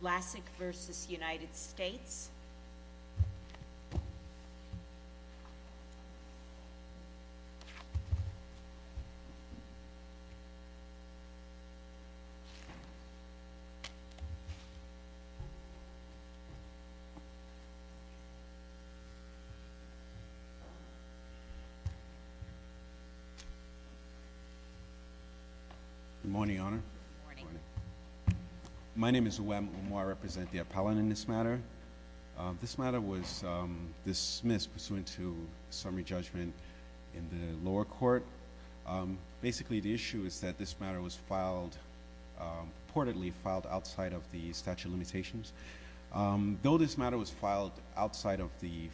Lassic v. United States Good morning, Your Honor. Good morning. My name is Umar. I represent the appellant in this matter. This matter was dismissed pursuant to summary judgment in the lower court. Basically the issue is that this matter was filed, purportedly filed, outside of the statute of limitations. Though this matter was filed outside of the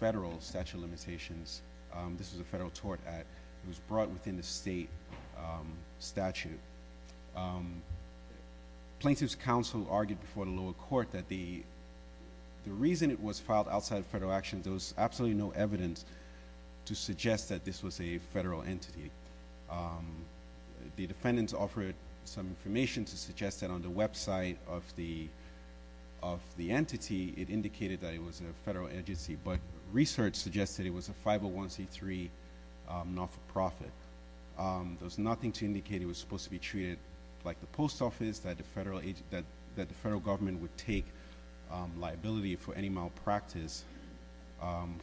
federal statute of limitations, this was a Plaintiff's counsel argued before the lower court that the reason it was filed outside of federal actions, there was absolutely no evidence to suggest that this was a federal entity. The defendants offered some information to suggest that on the website of the entity, it indicated that it was a federal agency, but research suggested it was a 501c3 not-for-profit. There was nothing to indicate it was supposed to be treated like the post office, that the federal government would take liability for any malpractice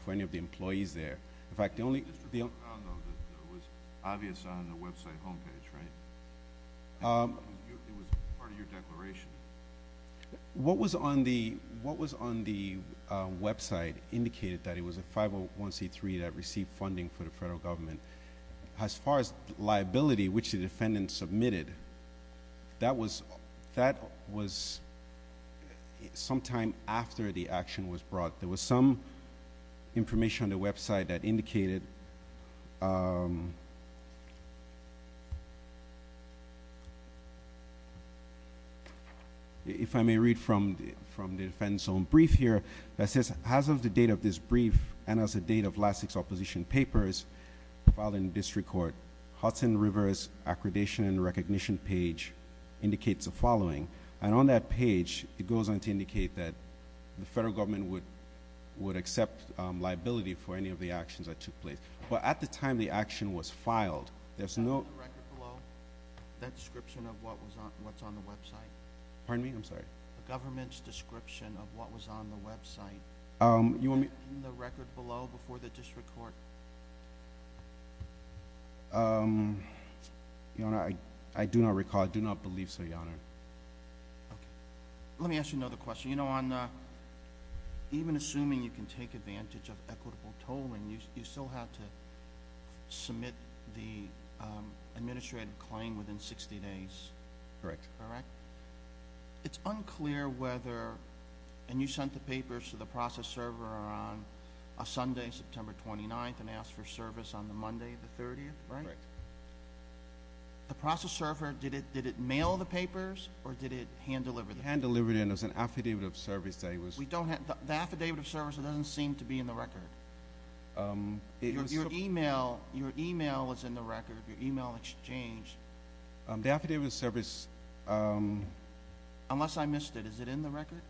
for any of the employees there. In fact, the only- It was obvious on the website homepage, right? It was part of your declaration. What was on the website indicated that it was a 501c3 that received funding for the as far as liability, which the defendant submitted, that was sometime after the action was brought. There was some information on the website that indicated, if I may read from the defendant's own brief here, that says, as of the date of this brief and as of the date of last six and seven papers filed in district court, Hudson River's Accreditation and Recognition page indicates the following. On that page, it goes on to indicate that the federal government would accept liability for any of the actions that took place, but at the time the action was filed, there's no- The record below, that description of what's on the website. Pardon me? I'm sorry. The government's description of what was on the website. You want me- Is that in the record below before the district court? I do not recall. I do not believe so, Your Honor. Okay. Let me ask you another question. Even assuming you can take advantage of equitable tolling, you still have to submit the administrative claim within 60 days, correct? Correct. It's unclear whether, and you sent the papers to the process server on a Sunday, September 29th, and asked for service on the Monday, the 30th, right? Correct. The process server, did it mail the papers or did it hand deliver the papers? Hand deliver them. It was an affidavit of service that it was- We don't have... The affidavit of service, it doesn't seem to be in the record. Your email is in the record, your email exchange. The affidavit of service- Unless I missed it, is it in the record?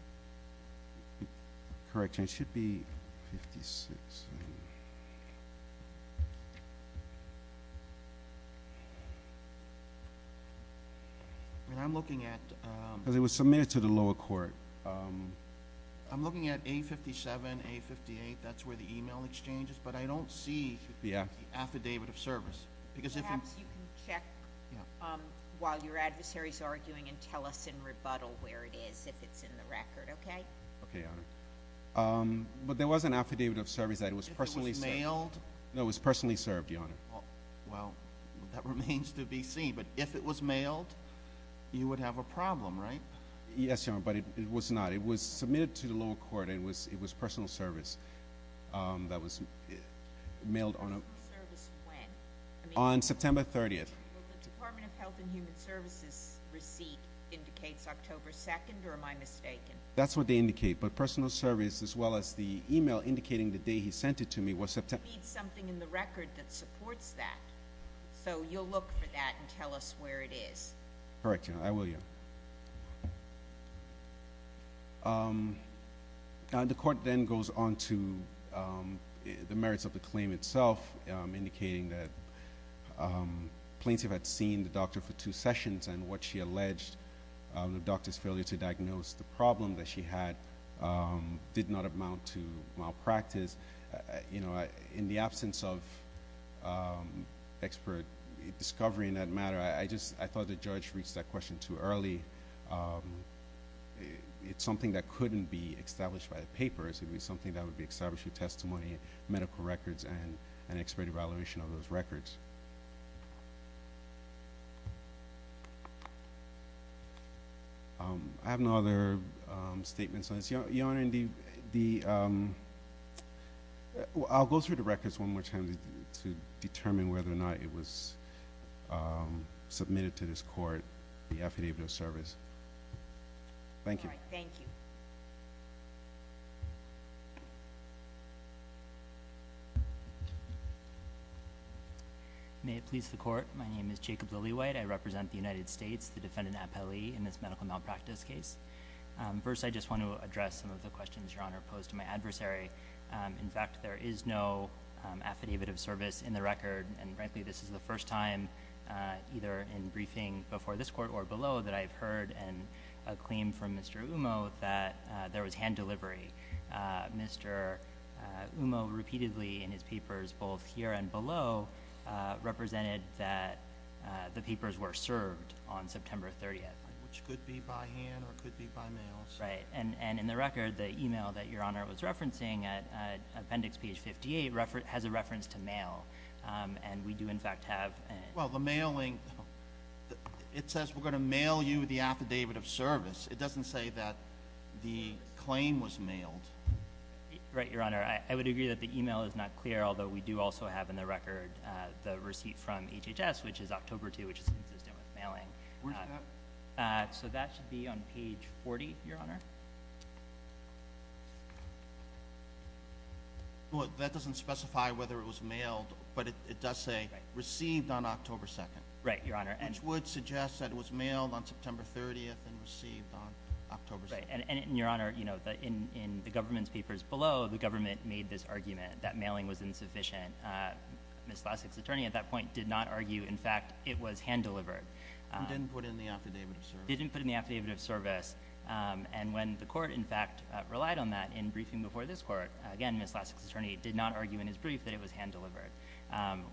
Correct. It should be 56. I'm looking at- It was submitted to the lower court. I'm looking at A57, A58, that's where the email exchange is, but I don't see the affidavit of service. Perhaps you can check while your adversary's arguing and tell us in rebuttal where it is if it's in the record, okay? Okay, Your Honor. There was an affidavit of service that it was personally- If it was mailed? No, it was personally served, Your Honor. Well, that remains to be seen, but if it was mailed, you would have a problem, right? Yes, Your Honor, but it was not. It was submitted to the lower court. It was personal service that was mailed on a- On September 30th. The Department of Health and Human Services receipt indicates October 2nd, or am I mistaken? That's what they indicate, but personal service as well as the email indicating the day he sent it to me was September- It needs something in the record that supports that, so you'll look for that and tell us where it is. Correct, Your Honor. I will, Your Honor. The court then goes on to the merits of the claim itself, indicating that plaintiff had seen the doctor for two sessions and what she alleged, the doctor's failure to diagnose the problem that she had did not amount to malpractice. In the absence of expert discovery in that matter, I thought the judge reached that question too early. It's something that couldn't be established by the papers. It would be something that would be established through testimony, medical records, and an expert evaluation of those records. I have no other statements on this. Your Honor, I'll go through the records one more time to determine whether or not it was a medical malpractice case. I'll start with the affidavit of service. Thank you. All right, thank you. May it please the Court, my name is Jacob Lilliewite. I represent the United States, the defendant, Appellee, in this medical malpractice case. First, I just want to address some of the questions Your Honor posed to my adversary. In fact, there is no affidavit of service in the record. And frankly, this is the first time either in briefing before this Court or below that I've heard a claim from Mr. Umo that there was hand delivery. Mr. Umo repeatedly in his papers both here and below represented that the papers were served on September 30th. Which could be by hand or could be by mail. Right. And in the record, the email that Your Honor was referencing at appendix page 58 has a Well, the mailing, it says we're going to mail you the affidavit of service. It doesn't say that the claim was mailed. Right, Your Honor. I would agree that the email is not clear, although we do also have in the record the receipt from HHS, which is October 2, which is consistent with mailing. Where's that? So that should be on page 40, Your Honor. Well, that doesn't specify whether it was mailed, but it does say received on October 2. Right, Your Honor. Which would suggest that it was mailed on September 30th and received on October 2. Right. And Your Honor, in the government's papers below, the government made this argument that mailing was insufficient. Ms. Lasky's attorney at that point did not argue. In fact, it was hand delivered. And didn't put in the affidavit of service. And when the court, in fact, relied on that in briefing before this court, again, Ms. Lasky's attorney did not argue in his brief that it was hand delivered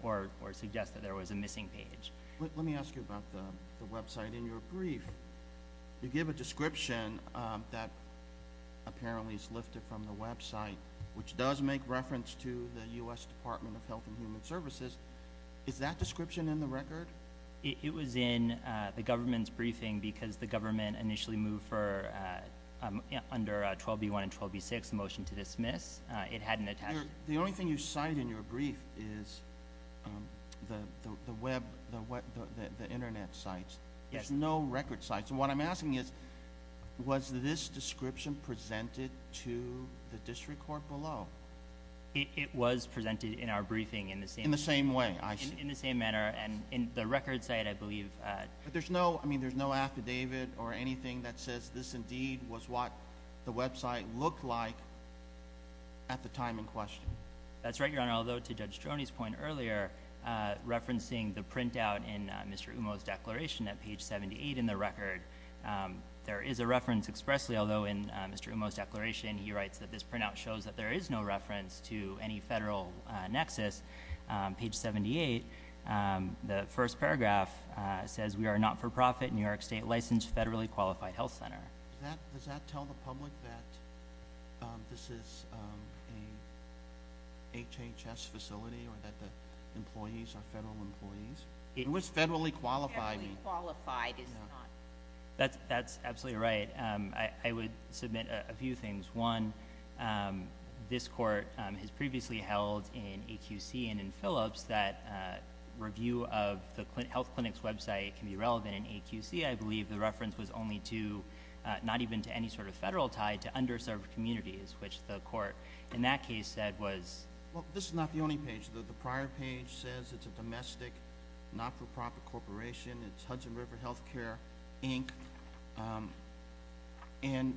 or suggest that there was a missing page. Let me ask you about the website in your brief. You give a description that apparently is lifted from the website, which does make reference to the U.S. Department of Health and Human Services. Is that description in the record? It was in the government's briefing because the government initially moved for, under 12B1 and 12B6, a motion to dismiss. It hadn't attached. The only thing you cite in your brief is the web, the internet sites. Yes. There's no record sites. And what I'm asking is, was this description presented to the district court below? It was presented in our briefing in the same way. In the same way, I see. In the same manner. And in the record site, I believe. But there's no, I mean, there's no affidavit or anything that says this indeed was what the website looked like at the time in question. That's right, Your Honor. Although, to Judge Stroni's point earlier, referencing the printout in Mr. Umo's declaration at page 78 in the record, there is a reference expressly. Although, in Mr. Umo's declaration, he writes that this printout shows that there is no on page 78, the first paragraph says, we are a not-for-profit New York State licensed federally qualified health center. Does that tell the public that this is an HHS facility or that the employees are federal employees? It was federally qualified. Federally qualified is not. That's absolutely right. I would submit a few things. One, this court has previously held in AQC and in Phillips that review of the health clinic's website can be relevant in AQC. I believe the reference was only to, not even to any sort of federal tie, to underserved communities, which the court in that case said was... Well, this is not the only page. The prior page says it's a domestic not-for-profit corporation. It's Hudson River Healthcare, Inc.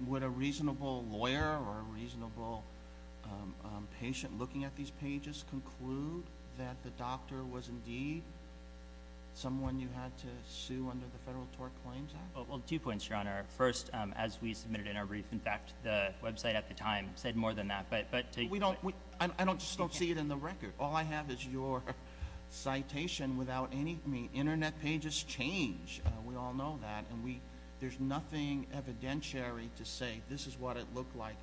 Would a reasonable lawyer or a reasonable patient looking at these pages conclude that the doctor was indeed someone you had to sue under the Federal Tort Claims Act? Two points, Your Honor. First, as we submitted in our brief, in fact, the website at the time said more than that. I just don't see it in the record. All I have is your citation without any... Internet pages change. We all know that. And there's nothing evidentiary to say this is what it looked like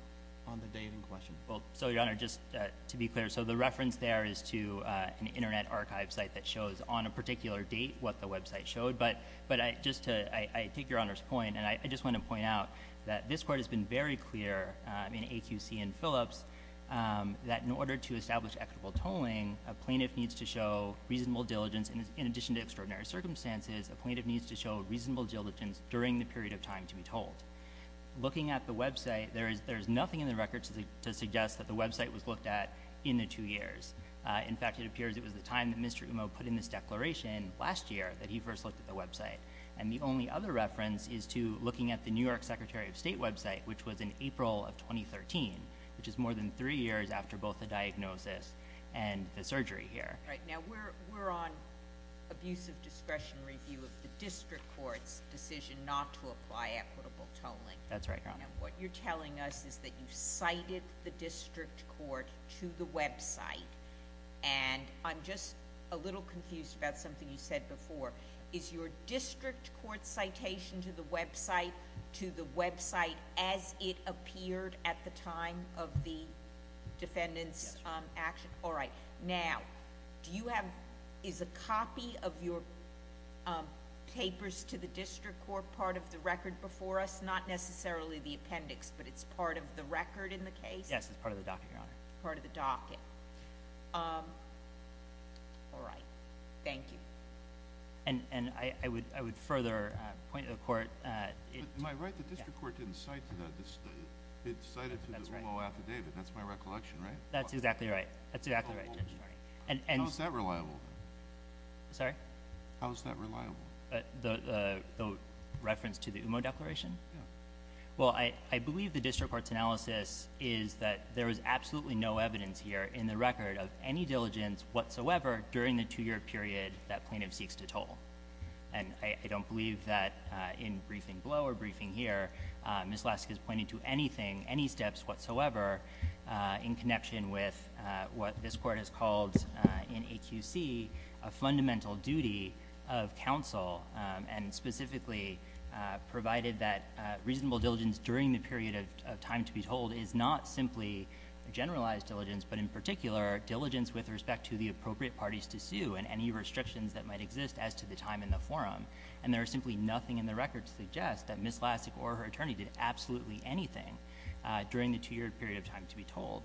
on the date in question. Well, so, Your Honor, just to be clear, so the reference there is to an Internet archive site that shows on a particular date what the website showed. But just to take Your Honor's point, and I just want to point out that this court has been very clear in AQC and Phillips that in order to establish equitable tolling, a plaintiff needs to show reasonable diligence. In addition to extraordinary circumstances, a plaintiff needs to show reasonable diligence during the period of time to be told. Looking at the website, there is nothing in the record to suggest that the website was looked at in the two years. In fact, it appears it was the time that Mr. Umo put in this declaration last year that he first looked at the website. And the only other reference is to looking at the New York Secretary of State website, which was in April of 2013, which is more than three years after both the diagnosis and the surgery here. All right. Now, we're on abuse of discretion review of the district court's decision not to apply equitable tolling. That's right, Your Honor. Now, what you're telling us is that you cited the district court to the website. And I'm just a little confused about something you said before. Is your district court citation to the website as it appeared at the time of the defendant's action? Yes, Your Honor. All right. Now, do you have—is a copy of your papers to the district court part of the record before us? Not necessarily the appendix, but it's part of the record in the case? Yes, it's part of the docket, Your Honor. Part of the docket. All right. Thank you. And I would further point to the court— Am I right that the district court didn't cite to that? It cited to the Umo affidavit. That's my recollection, right? That's exactly right. How is that reliable? Sorry? How is that reliable? The reference to the Umo declaration? Yeah. Well, I believe the district court's analysis is that there is absolutely no evidence here in the record of any diligence whatsoever during the two-year period that plaintiff seeks to toll. And I don't believe that in briefing below or briefing here, Ms. Laska is pointing to whatsoever in connection with what this court has called in AQC a fundamental duty of counsel and specifically provided that reasonable diligence during the period of time to be tolled is not simply generalized diligence, but in particular, diligence with respect to the appropriate parties to sue and any restrictions that might exist as to the time in the forum. And there is simply nothing in the record to suggest that Ms. Laska or her attorney did absolutely anything during the two-year period of time to be tolled.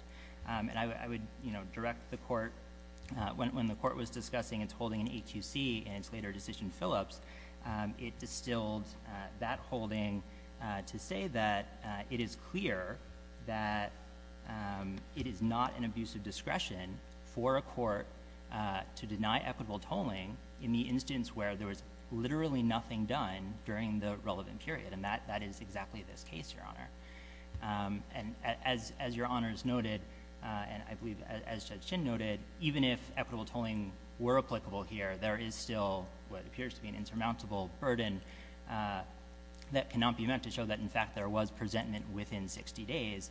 And I would direct the court, when the court was discussing its holding in AQC and its later decision in Phillips, it distilled that holding to say that it is clear that it is not an abuse of discretion for a court to deny equitable tolling in the instance where there was literally nothing done during the relevant period. And that is exactly this case, Your Honor. And as Your Honors noted, and I believe as Judge Chin noted, even if equitable tolling were applicable here, there is still what appears to be an insurmountable burden that cannot be met to show that, in fact, there was presentment within 60 days.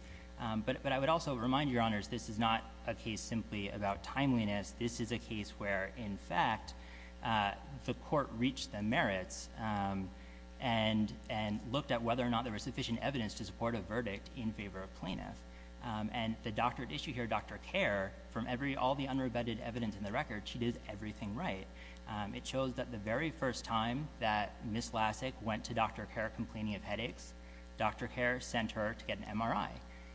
But I would also remind Your Honors this is not a case simply about timeliness. This is a case where, in fact, the court reached the merits and looked at whether or not there was sufficient evidence to support a verdict in favor of plaintiff. And the doctored issue here, Dr. Kerr, from all the unrebutted evidence in the record, she did everything right. It shows that the very first time that Ms. Laska went to Dr. Kerr complaining of headaches, Dr. Kerr sent her to get an MRI.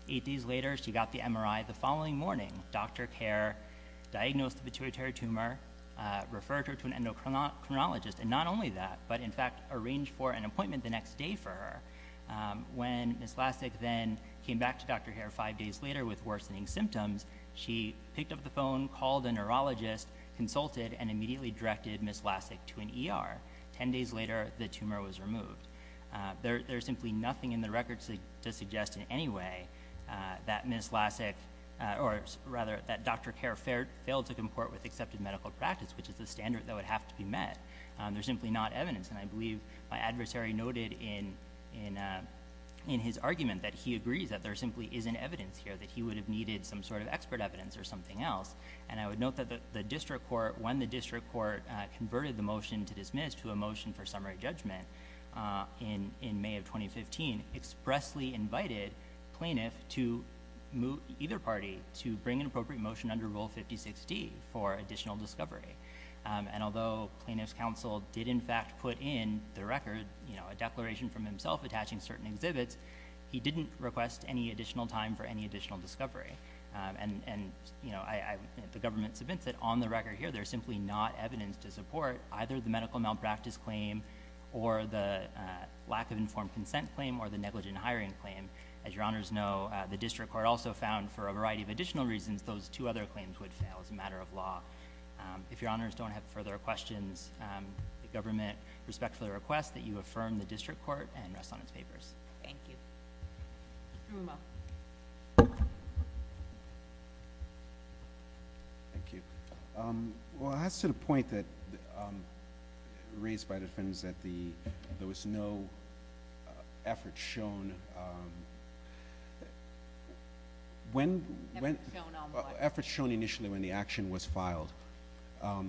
Eight days later, she got the MRI. The following morning, Dr. Kerr diagnosed the pituitary tumor, referred her to an endocrinologist. And not only that, but in fact arranged for an appointment the next day for her. When Ms. Laska then came back to Dr. Kerr five days later with worsening symptoms, she picked up the phone, called a neurologist, consulted, and immediately directed Ms. Laska to an ER. Ten days later, the tumor was removed. There's simply nothing in the record to suggest in any way that Dr. Kerr failed to comport with accepted medical practice, which is the standard that would have to be met. There's simply not evidence. And I believe my adversary noted in his argument that he agrees that there simply isn't evidence here, that he would have needed some sort of expert evidence or something else. And I would note that when the district court converted the motion to dismiss to a motion for summary judgment in May of 2015, expressly invited plaintiff to move either party to bring an appropriate motion under Rule 56D for additional discovery. And although plaintiff's counsel did in fact put in the record, you know, a declaration from himself attaching certain exhibits, he didn't request any additional time for any additional discovery. And, you know, the government submits it. On the record here, there's simply not evidence to support either the medical malpractice claim or the lack of informed consent claim or the negligent hiring claim. As Your Honors know, the district court also found for a variety of additional reasons those two other claims would fail as a matter of law. If Your Honors don't have further questions, the government respectfully requests that you affirm the district court and rest on its papers. Thank you. Mr. Umo. Thank you. Well, it has to the point that raised by the defense that there was no effort shown. Effort shown on what? Effort shown initially when the action was filed.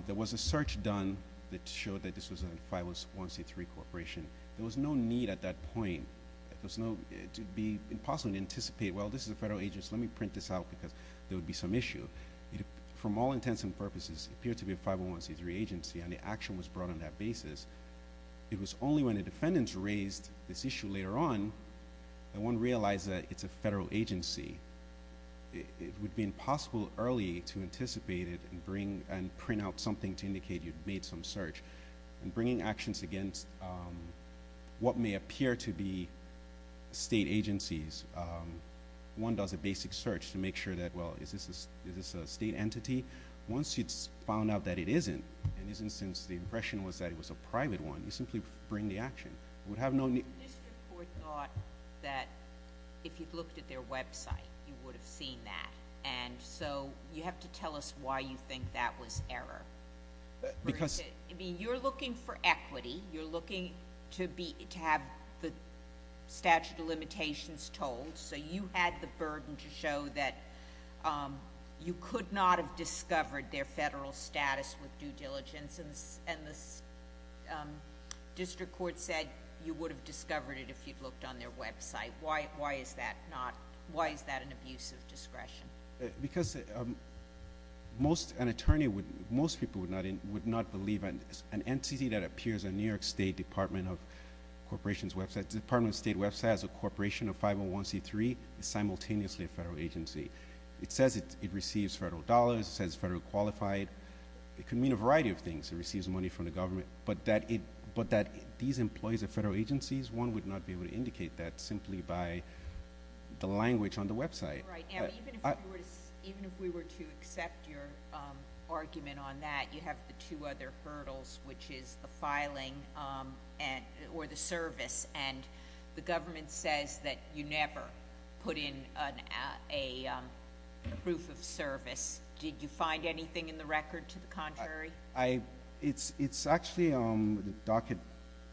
There was a search done that showed that this was a 501c3 corporation. There was no need at that point to be impossible to anticipate, well, this is a federal agency, let me print this out because there would be some issue. From all intents and purposes, it appeared to be a 501c3 agency and the action was brought on that basis. It was only when the defendants raised this issue later on that one realized that it's a federal agency. It would be impossible early to anticipate it and print out something to indicate you had made some search. In bringing actions against what may appear to be state agencies, one does a basic search to make sure that, well, is this a state entity? Once it's found out that it isn't and isn't since the impression was that it was a private one, you simply bring the action. It would have no need. The district court thought that if you'd looked at their website, you would have seen that. And so you have to tell us why you think that was error. You're looking for equity. You're looking to have the statute of limitations told, so you had the burden to show that you could not have discovered their federal status with due diligence and the district court said you would have discovered it if you'd looked on their website. Why is that an abuse of discretion? Because most people would not believe an entity that appears on New York State Department of Corporation's website, the Department of State website as a corporation of 501C3, is simultaneously a federal agency. It says it receives federal dollars. It says it's federally qualified. It could mean a variety of things. It receives money from the government, but that these employees are federal agencies, one would not be able to indicate that simply by the language on the website. Even if we were to accept your argument on that, you have the two other hurdles, which is the filing or the service. And the government says that you never put in a proof of service. Did you find anything in the record to the contrary? It's actually Docket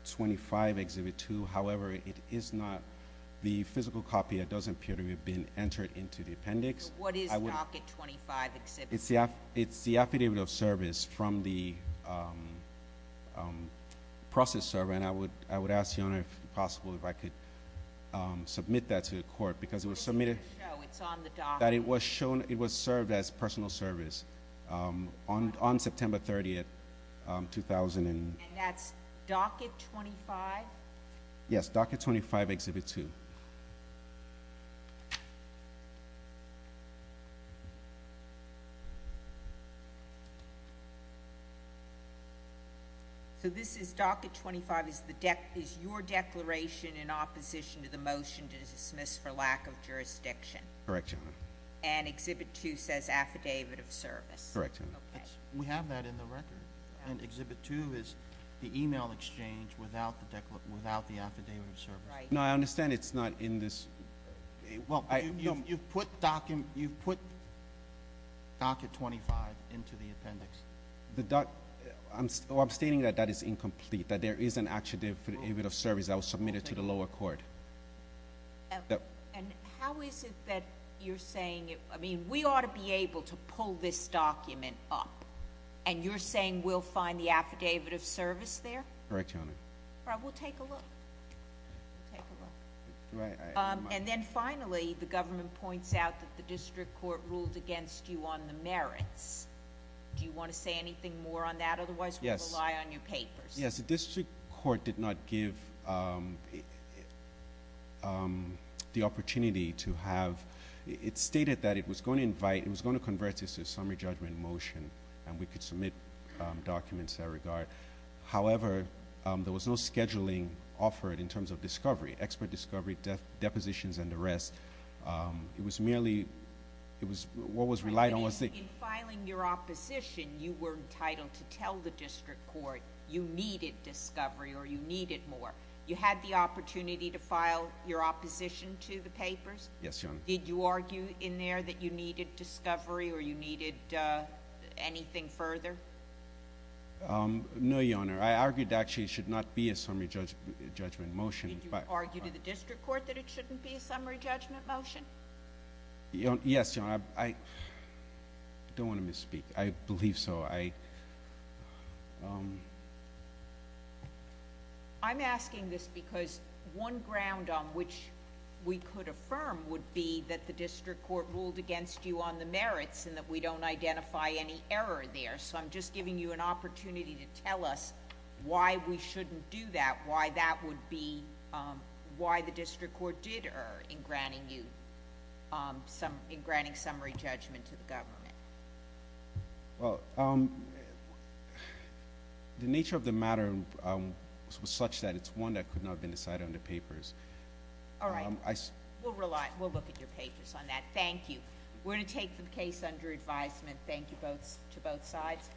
25, Exhibit 2. However, it is not the physical copy. It doesn't appear to have been entered into the appendix. What is Docket 25, Exhibit 2? It's the affidavit of service from the process server, and I would ask the owner if possible if I could submit that to the court because it was submitted. No, it's on the docket. It was served as personal service on September 30, 2000. And that's Docket 25? Yes, Docket 25, Exhibit 2. So this is Docket 25 is your declaration in opposition to the motion to dismiss for lack of jurisdiction? Correct, Your Honor. And Exhibit 2 says affidavit of service? Correct, Your Honor. We have that in the record. And Exhibit 2 is the e-mail exchange without the affidavit of service. No, I understand it's not in this. Well, you've put Docket 25 into the appendix. I'm stating that that is incomplete, that there is an affidavit of service that was submitted to the lower court. And how is it that you're saying, I mean, we ought to be able to pull this document up, and you're saying we'll find the affidavit of service there? Correct, Your Honor. All right, we'll take a look. We'll take a look. And then finally, the government points out that the district court ruled against you on the merits. Do you want to say anything more on that? Otherwise, we'll rely on your papers. Yes, the district court did not give the opportunity to have, it stated that it was going to invite, it was going to convert this to a summary judgment motion, and we could submit documents in that regard. However, there was no scheduling offered in terms of discovery, expert discovery, depositions, and the rest. It was merely, it was, what was relied on was the- You needed discovery or you needed more. You had the opportunity to file your opposition to the papers? Yes, Your Honor. Did you argue in there that you needed discovery or you needed anything further? No, Your Honor. I argued actually it should not be a summary judgment motion. Did you argue to the district court that it shouldn't be a summary judgment motion? Yes, Your Honor. I don't want to misspeak. I believe so. I'm asking this because one ground on which we could affirm would be that the district court ruled against you on the merits and that we don't identify any error there, so I'm just giving you an opportunity to tell us why we shouldn't do that, why that would be why the district court did err in granting you, in granting summary judgment to the government. Well, the nature of the matter was such that it's one that could not have been decided on the papers. All right. We'll rely, we'll look at your papers on that. Thank you. We're going to take the case under advisement. Thank you both, to both sides.